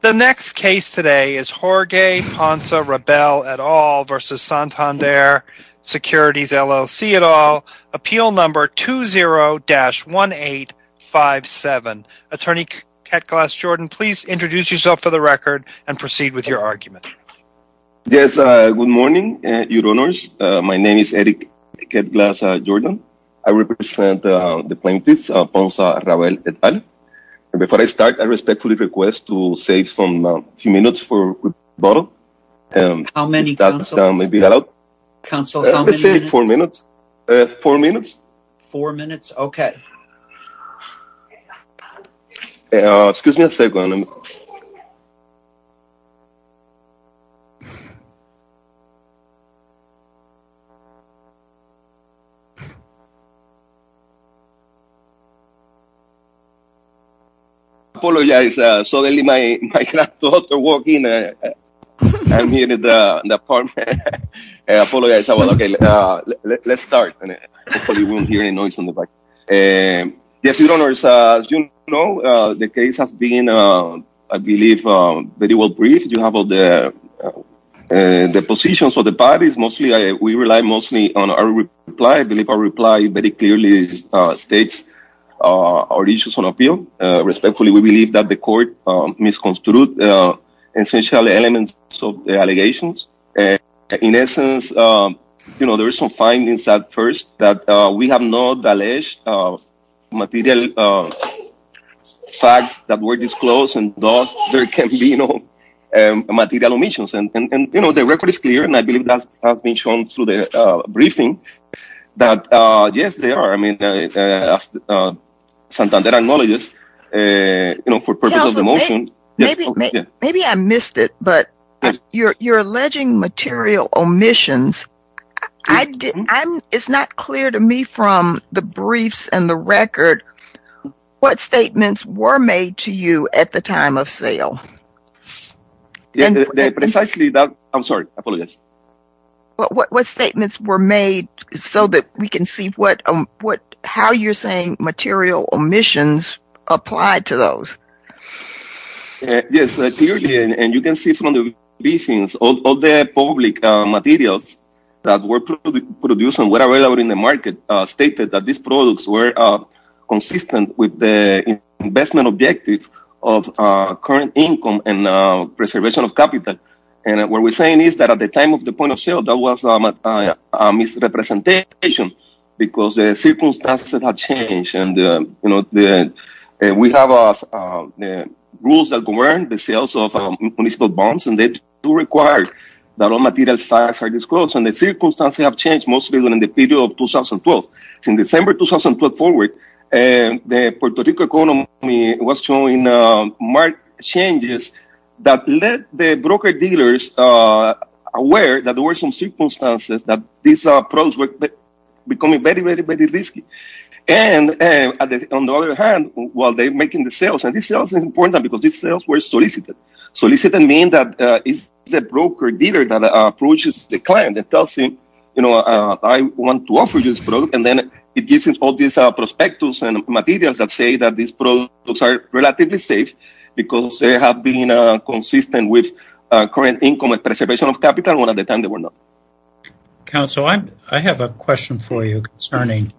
The next case today is Jorge Ponsa-Rabell et al. v. Santander Securities, LLC et al. Appeal number 20-1857. Attorney Ketglas Jordan, please introduce yourself for the record and proceed with your argument. Yes, good morning, your honors. My name is Eric Ketglas Jordan. I represent the plaintiffs, Ponsa-Rabell et al. Before I start, I respectfully request to save a few minutes for a quick bottle. How many, counsel? That may be allowed. Counsel, how many minutes? Four minutes. Four minutes? I apologize. Suddenly, my granddaughter walked in. I'm here in the apartment. I apologize. Let's start. Hopefully, we won't hear any noise in the back. Yes, your honors, as you know, the case has been, I believe, very well briefed. You have all the positions of the parties. We rely mostly on our reply. I believe our reply very clearly states our issues on appeal. Respectfully, we believe that the court misconstrued essential elements of the allegations. In essence, there are some findings at first that we have not alleged material facts that were disclosed. Thus, there can be no material omissions. The record is clear, and I believe that has been shown through the briefing that, yes, there are. Santander acknowledges for purpose of the motion. Maybe I missed it, but you're alleging material omissions. It's not clear to me from the briefs and the record what statements were made to you at the time of sale. Precisely that. I'm sorry. I apologize. Well, what statements were made so that we can see how you're saying material omissions apply to those? Yes, clearly, and you can see from the briefings, all the public materials that were produced and were available in the market stated that these products were consistent with the investment objective of current income and preservation of capital. What we're saying is that at the time of the point of sale, that was a misrepresentation because the circumstances have changed. We have rules that govern the sales of municipal bonds, and they do require that all material facts are disclosed. The circumstances have changed, mostly during the period of 2012. From December 2012 forward, the Puerto Rico economy was showing marked changes that led the broker dealers aware that there were some circumstances that these products were becoming very, very, very risky. On the other hand, while they're making the sales, and these sales are important because these sales were solicited. Solicited means that it's the broker dealer that approaches the client and tells him, I want to offer you this product, and then it gives him all these prospectus and materials that say that these products are relatively safe because they have been consistent with current income and preservation of capital, when at the time they were not. Council, I have a question for you concerning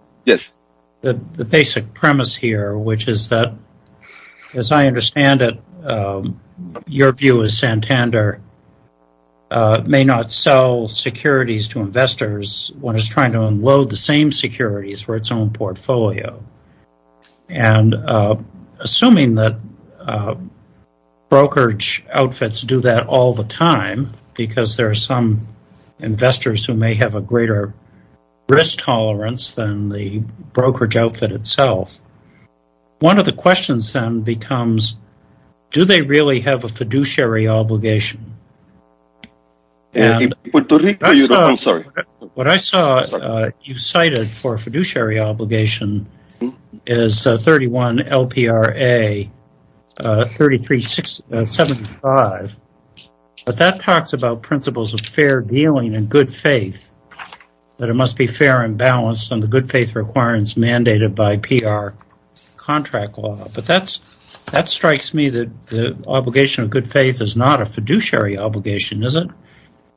the basic premise here, which is that, as I understand it, your view is Santander may not sell securities to investors when it's trying to unload the same securities for its portfolio. Assuming that brokerage outfits do that all the time, because there are some investors who may have a greater risk tolerance than the brokerage outfit itself, one of the questions then becomes, do they really have a fiduciary obligation? What I saw you cited for a fiduciary obligation is 31 LPRA 3375, but that talks about principles of fair dealing and good faith, that it must be fair and balanced on the good faith requirements mandated by PR contract law, but that strikes me that the obligation of good faith is not a fiduciary obligation, is it?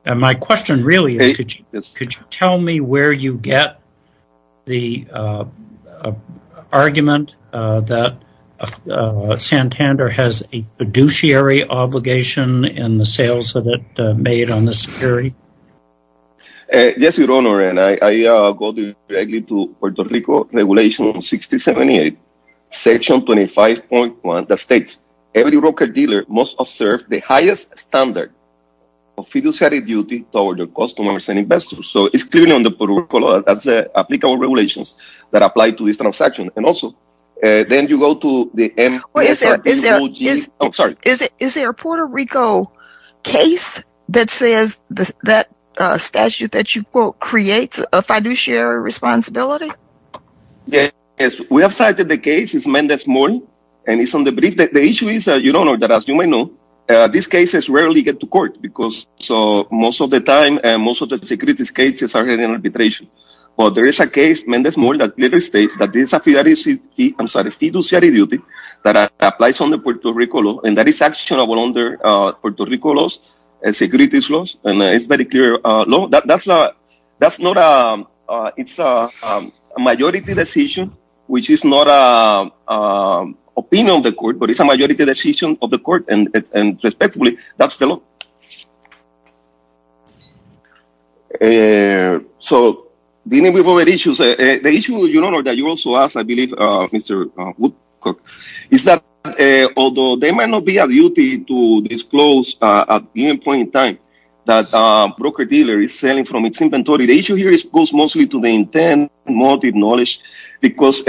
My question really is, could you tell me where you get the argument that Santander has a fiduciary obligation in the sales that it made on the security? Yes, Your Honor, and I go directly to Puerto Rico Regulation 6078, Section 25.1 that states, every broker-dealer must observe the highest standard of fiduciary duty toward their customers and investors. So it's clearly on the protocol, that's applicable regulations that apply to this transaction. And also, then you go to the end... Is there a Puerto Rico case that says that statute that you quote, creates a fiduciary responsibility? Yes, we have cited the case, it's Mendez-Morin, and it's on the brief. The issue is, Your Honor, that as you may know, these cases rarely get to court, because most of the time, most of the securities cases are in arbitration. But there is a case, Mendez-Morin, that clearly states that it's a fiduciary duty that applies on the Puerto Rico law, and that is actionable under Puerto Rico laws, and securities laws, and it's very clear. That's not a... It's a majority decision, which is not an opinion of the court, but it's a majority decision of the court, and respectfully, that's the law. So dealing with other issues, the issue, Your Honor, that you also asked, I believe, Mr. Woodcock, is that although there might not be a duty to disclose at the end point in time, that a broker-dealer is selling from its inventory, the issue here goes mostly to the intent and motive knowledge, because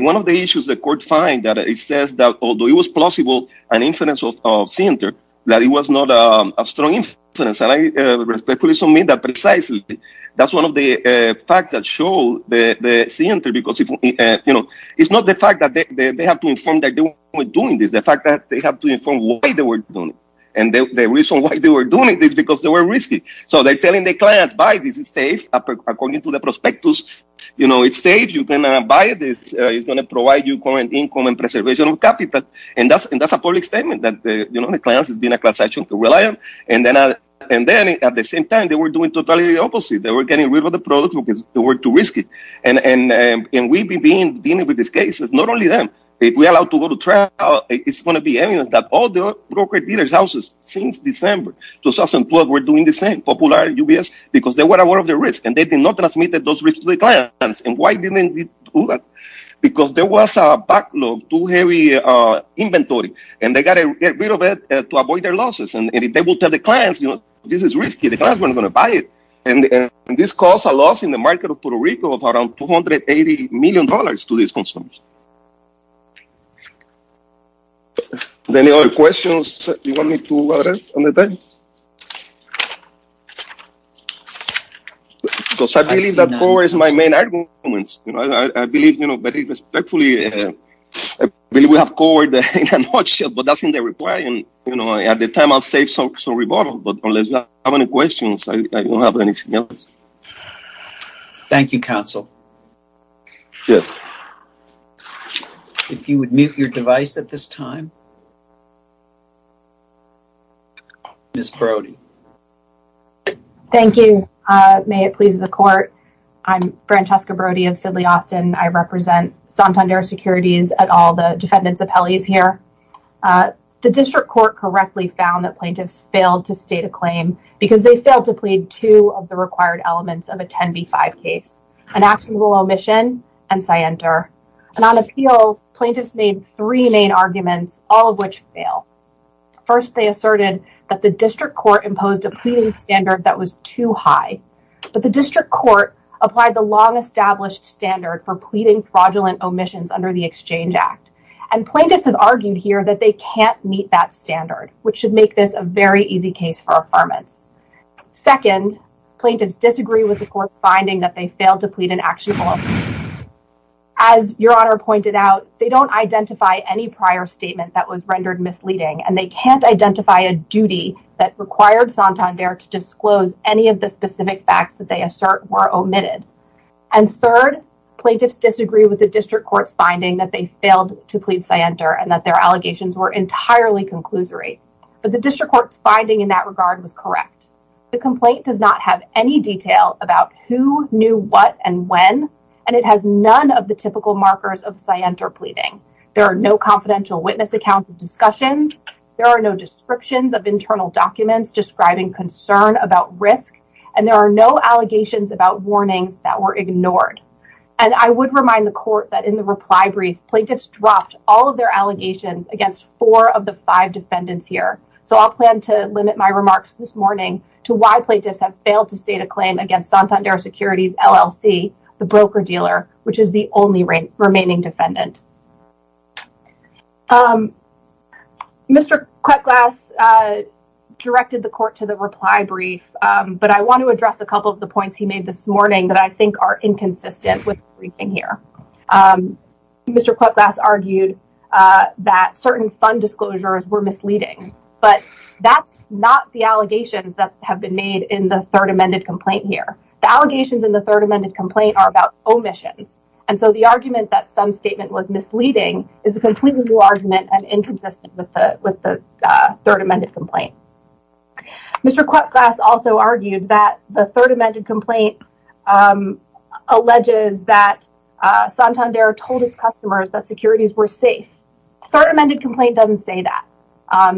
one of the issues the court finds that it says that although it was plausible, an inference of Sienter, that it was not a strong inference, and I respectfully submit that precisely. That's one of the facts that show the Sienter, because it's not the fact that they have to inform that they were doing this. The fact that they have to inform why they were doing it, and the reason why they were doing it is because they were risky. So they're telling their clients, buy this, it's safe, according to the prospectus, it's safe, you can buy this, it's going to provide you income and preservation of capital, and that's a public statement, that the clients have been a class action to rely on, and then at the same time, they were doing totally the opposite. They were getting rid of the product because they were too risky, and we've been dealing with these cases, not only them, if we're allowed to go to trial, it's going to be evidence that all the broker-dealers' houses since December 2012 were doing the same, Popular, UBS, because they were aware of the risk, and they did not transmit those risks to the clients, and why didn't they do that? Because there was a backlog, too heavy inventory, and they got rid of it to avoid their losses, and they will tell the clients, this is risky, the clients weren't going to buy it, and this caused a loss in the market of Puerto Rico of around 280 million dollars to these consumers. Any other questions you want me to address on the time? Because I believe that is my main argument, you know, I believe, you know, very respectfully, I believe we have covered in a nutshell, but that's in the reply, and, you know, at the time, I'll save some rebuttal, but unless you have any questions, I don't have anything else. Thank you, counsel. Yes, if you would mute your device at this time. Ms. Brody. Thank you. May it please the court, I'm Francesca Brody of Sidley Austin, I represent Santander Securities at all the defendants' appellees here. The district court correctly found that plaintiffs failed to state a claim, because they failed to plead two of the required elements of a 10b5 case, an actionable omission and scienter, and on appeals, plaintiffs made three main arguments, all of which fail. First, they asserted that the district court imposed a pleading standard that was too high, but the district court applied the long-established standard for pleading fraudulent omissions under the Exchange Act, and plaintiffs have argued here that they can't meet that Second, plaintiffs disagree with the court's finding that they failed to plead an actionable omission. As your honor pointed out, they don't identify any prior statement that was rendered misleading, and they can't identify a duty that required Santander to disclose any of the specific facts that they assert were omitted. And third, plaintiffs disagree with the district court's finding that they failed to plead scienter, and that their allegations were correct. The complaint does not have any detail about who knew what and when, and it has none of the typical markers of scienter pleading. There are no confidential witness accounts of discussions, there are no descriptions of internal documents describing concern about risk, and there are no allegations about warnings that were ignored. And I would remind the court that in the reply brief, plaintiffs dropped all of their allegations against four of the five defendants here. So I'll plan to limit my remarks this morning to why plaintiffs have failed to state a claim against Santander Securities LLC, the broker-dealer, which is the only remaining defendant. Mr. Kwek-Glass directed the court to the reply brief, but I want to address a couple of the points he made this morning that I think are inconsistent with everything here. Mr. Kwek-Glass argued that certain fund disclosures were misleading, but that's not the allegations that have been made in the third amended complaint here. The allegations in the third amended complaint are about omissions, and so the argument that some statement was misleading is a completely new argument and inconsistent with the third amended complaint. Mr. Kwek-Glass also argued that the were safe. Third amended complaint doesn't say that.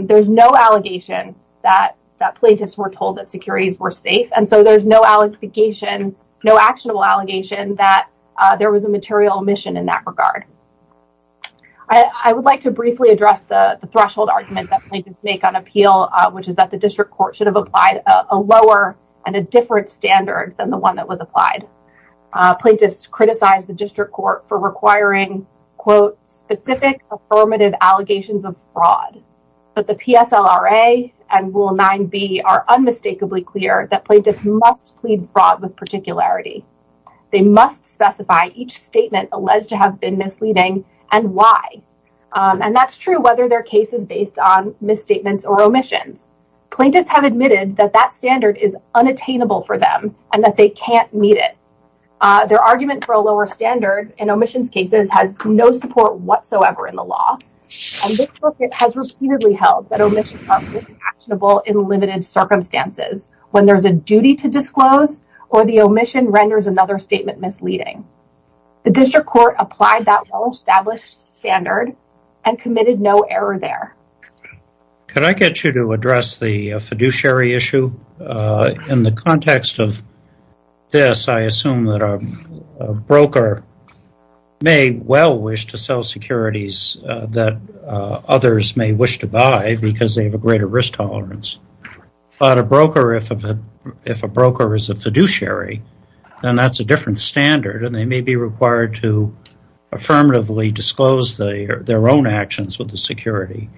There's no allegation that plaintiffs were told that securities were safe, and so there's no allegation, no actionable allegation that there was a material omission in that regard. I would like to briefly address the threshold argument that plaintiffs make on appeal, which is that the district court should have applied a lower and a different standard than the one that was applied. Plaintiffs criticized the district for requiring quote specific affirmative allegations of fraud, but the PSLRA and Rule 9b are unmistakably clear that plaintiffs must plead fraud with particularity. They must specify each statement alleged to have been misleading and why, and that's true whether their case is based on misstatements or omissions. Plaintiffs have admitted that that standard is unattainable for them and that they can't meet it. Their argument for a lower standard in omissions cases has no support whatsoever in the law, and this circuit has repeatedly held that omissions are fully actionable in limited circumstances when there's a duty to disclose or the omission renders another statement misleading. The district court applied that well-established standard and committed no error there. Could I get you to address the fiduciary issue in the context of this? I assume that a broker may well wish to sell securities that others may wish to buy because they have a greater risk tolerance, but if a broker is a fiduciary, then that's a different standard and they may be required to affirmatively disclose their own security.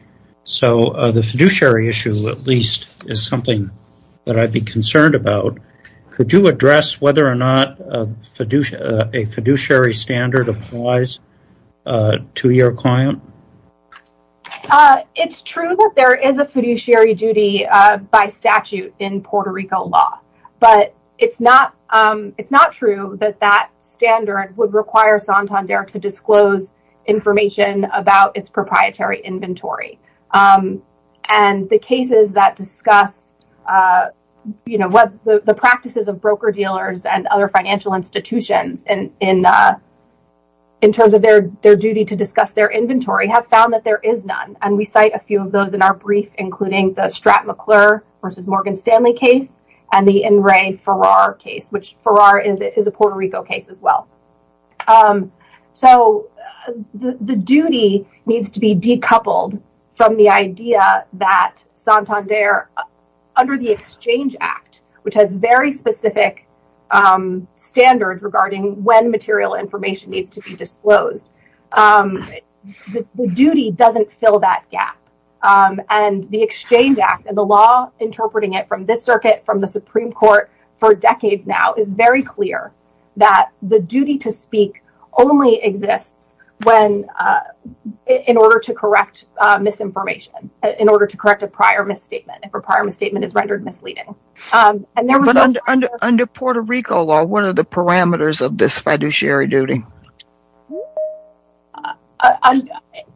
So the fiduciary issue, at least, is something that I'd be concerned about. Could you address whether or not a fiduciary standard applies to your client? It's true that there is a fiduciary duty by statute in Puerto Rico law, but it's not true that that standard would require Santander to disclose information about its proprietary inventory, and the cases that discuss the practices of broker-dealers and other financial institutions in terms of their duty to discuss their inventory have found that there is none, and we cite a few of those in our brief, including the Stratt-McClure versus Morgan Stanley case and the In re Ferrar case, which Ferrar is a Puerto Rico case as well. So the duty needs to be decoupled from the idea that Santander, under the Exchange Act, which has very specific standards regarding when material information needs to be disclosed, the duty doesn't fill that gap, and the Exchange Act and the law interpreting it from this circuit, from the Supreme Court, for decades now, is very clear that the duty to speak only exists in order to correct misinformation, in order to correct a prior misstatement, if a prior misstatement is rendered misleading. Under Puerto Rico law, what are the parameters of this fiduciary duty?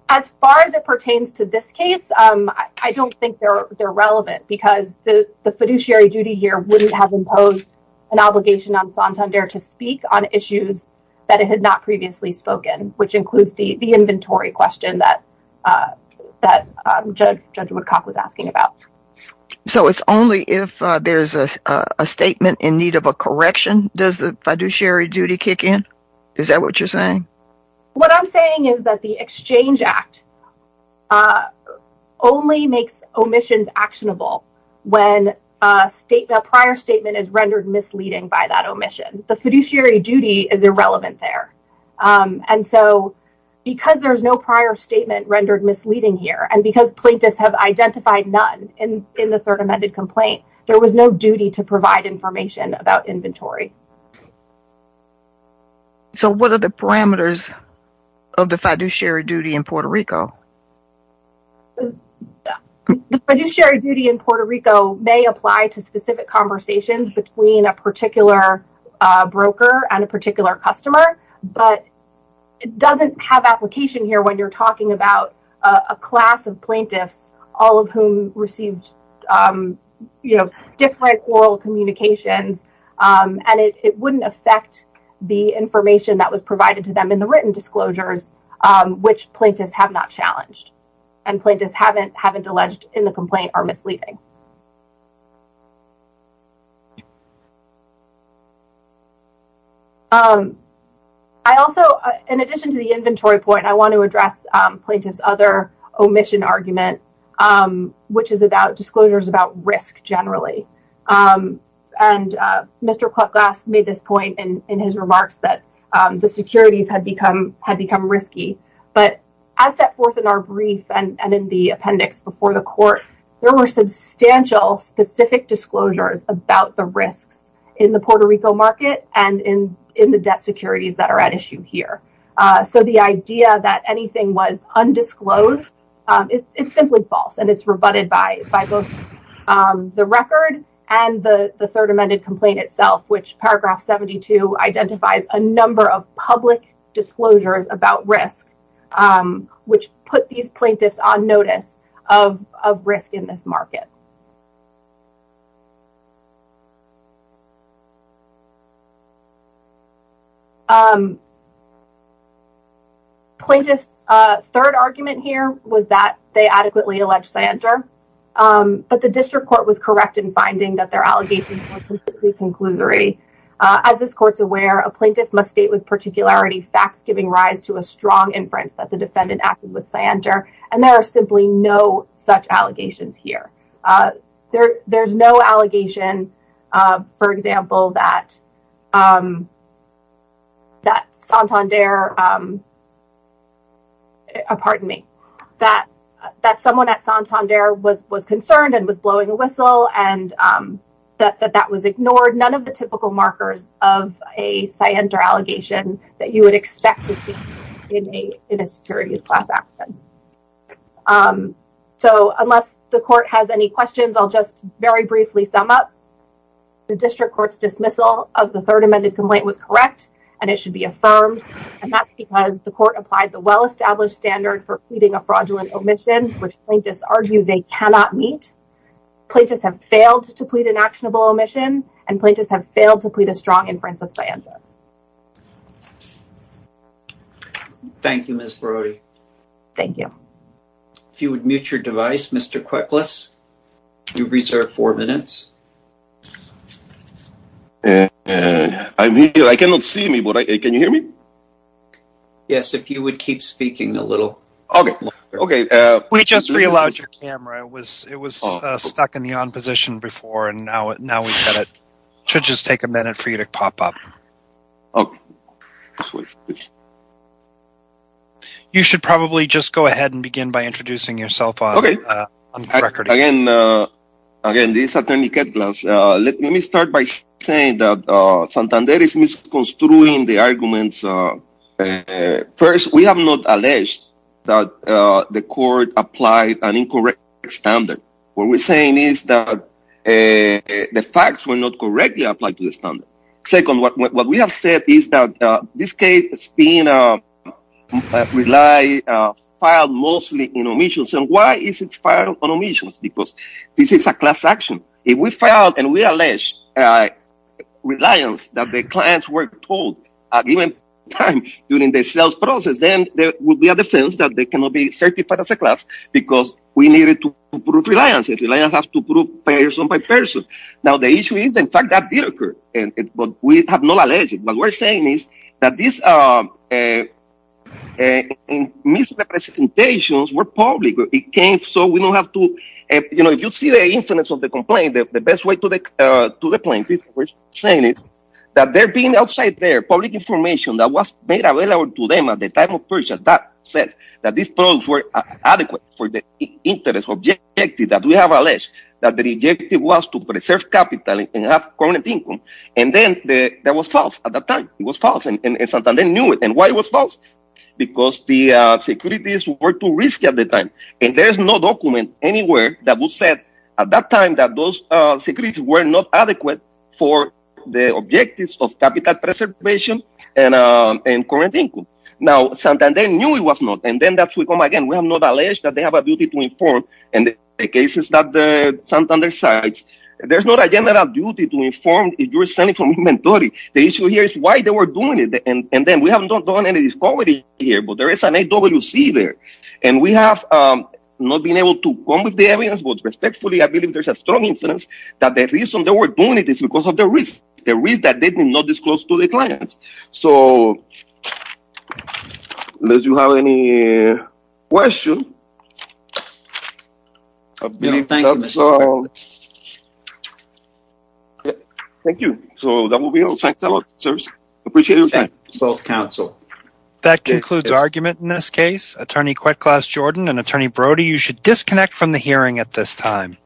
As far as it pertains to this case, I don't think they're relevant because the fiduciary duty here wouldn't have imposed an obligation on Santander to speak on issues that it had not previously spoken, which includes the inventory question that Judge Woodcock was asking about. So it's only if there's a statement in need of a correction does the fiduciary duty kick in? Is that what you're saying? What I'm saying is that the Exchange Act only makes omissions actionable when a prior statement is rendered misleading by that omission. The fiduciary duty is irrelevant there, and so because there's no prior statement rendered misleading here, and because plaintiffs have identified none in the third amended complaint, there was no duty to provide information about inventory. So what are the parameters of the fiduciary duty in Puerto Rico? The fiduciary duty in Puerto Rico may apply to specific conversations between a particular broker and a particular customer, but it doesn't have application here when you're talking about a class of plaintiffs, all of whom received, you know, different oral communications, and it wouldn't affect the information that was provided to them in the written disclosures, which plaintiffs have not challenged and plaintiffs haven't alleged in the complaint are misleading. I also, in addition to the inventory point, I want to address plaintiff's other omission argument, which is about disclosures about risk generally, and Mr. Klucklass made this point in his remarks that the securities had become risky, but as set forth in our brief and in the appendix before the court, there were substantial specific disclosures about the risks in the Puerto Rico market and in the debt securities that are at issue here. So the idea that anything was undisclosed, it's simply false, and it's rebutted by both the record and the third amended complaint itself, which paragraph 72 identifies a number of public disclosures about risk, which put these plaintiffs on notice of risk in this market. Plaintiff's third argument here was that they adequately allege Cianter, but the district court was correct in finding that their allegations were conclusory. As this court's aware, a plaintiff must state with particularity facts giving rise to a strong inference that the defendant acted with Cianter, and there are simply no such allegations here. There's no allegation, for example, that Santander, pardon me, that someone at Santander was concerned and was blowing a whistle, and that that was ignored. None of the typical markers of a Cianter allegation that you would expect to see in a securities class action. So unless the court has any questions, I'll just very briefly sum up. The district court's dismissal of the third amended complaint was correct, and it should be affirmed, and that's because the court applied the well-established standard for pleading a fraudulent omission, which plaintiffs argue they cannot meet. Plaintiffs have failed to plead an actionable omission, and plaintiffs have failed to plead a strong inference of Cianter. Thank you, Ms. Brody. Thank you. If you would mute your device, Mr. Kwekles, you've reserved four minutes. I'm here. I cannot see me, but can you hear me? Yes, if you would keep speaking a little. Okay, okay. We just re-allowed your camera. It was stuck in the on position before, and now we've got it. It should just take a minute for you to pop up. You should probably just go ahead and begin by introducing yourself on the record. Again, this is Attorney Ketglas. Let me start by saying that Santander is misconstruing the arguments. First, we have not alleged that the court applied an incorrect standard. What we're saying is that the facts were not correctly applied to the standard. Second, what we have said is that this case has been filed mostly in omissions, and why is it filed on omissions? Because this is a class action. If we file and we allege reliance that the clients were told at a given time during the sales process, then there will be a defense that they cannot be proved person by person. Now, the issue is, in fact, that did occur, but we have not alleged it. What we're saying is that these misrepresentations were public. If you see the influence of the complaint, the best way to the point we're saying is that there being outside there public information that was made available to them at the time of purchase that says that these products were adequate for the interest objective that we have alleged, that the objective was to preserve capital and have current income, and then that was false at the time. It was false, and Santander knew it, and why it was false? Because the securities were too risky at the time, and there is no document anywhere that would say at that time that those securities were not adequate for the objectives of capital preservation and current income. Now, Santander knew it was not, and then we have not alleged that they have a duty to inform, and the cases that Santander cites, there's not a general duty to inform if you're selling from inventory. The issue here is why they were doing it, and then we have not done any discovery here, but there is an AWC there, and we have not been able to come with the evidence, but respectfully, I believe there's a strong influence that the reason they were doing it is because of the risk, the risk that they did not disclose to their clients. So, unless you have any questions, I believe that's all. Thank you. So, that will be all. Thanks a lot, sirs. Appreciate your time. Both counsel. That concludes argument in this case. Attorney Queklaus Jordan and Attorney Brody, you should disconnect from the hearing at this time.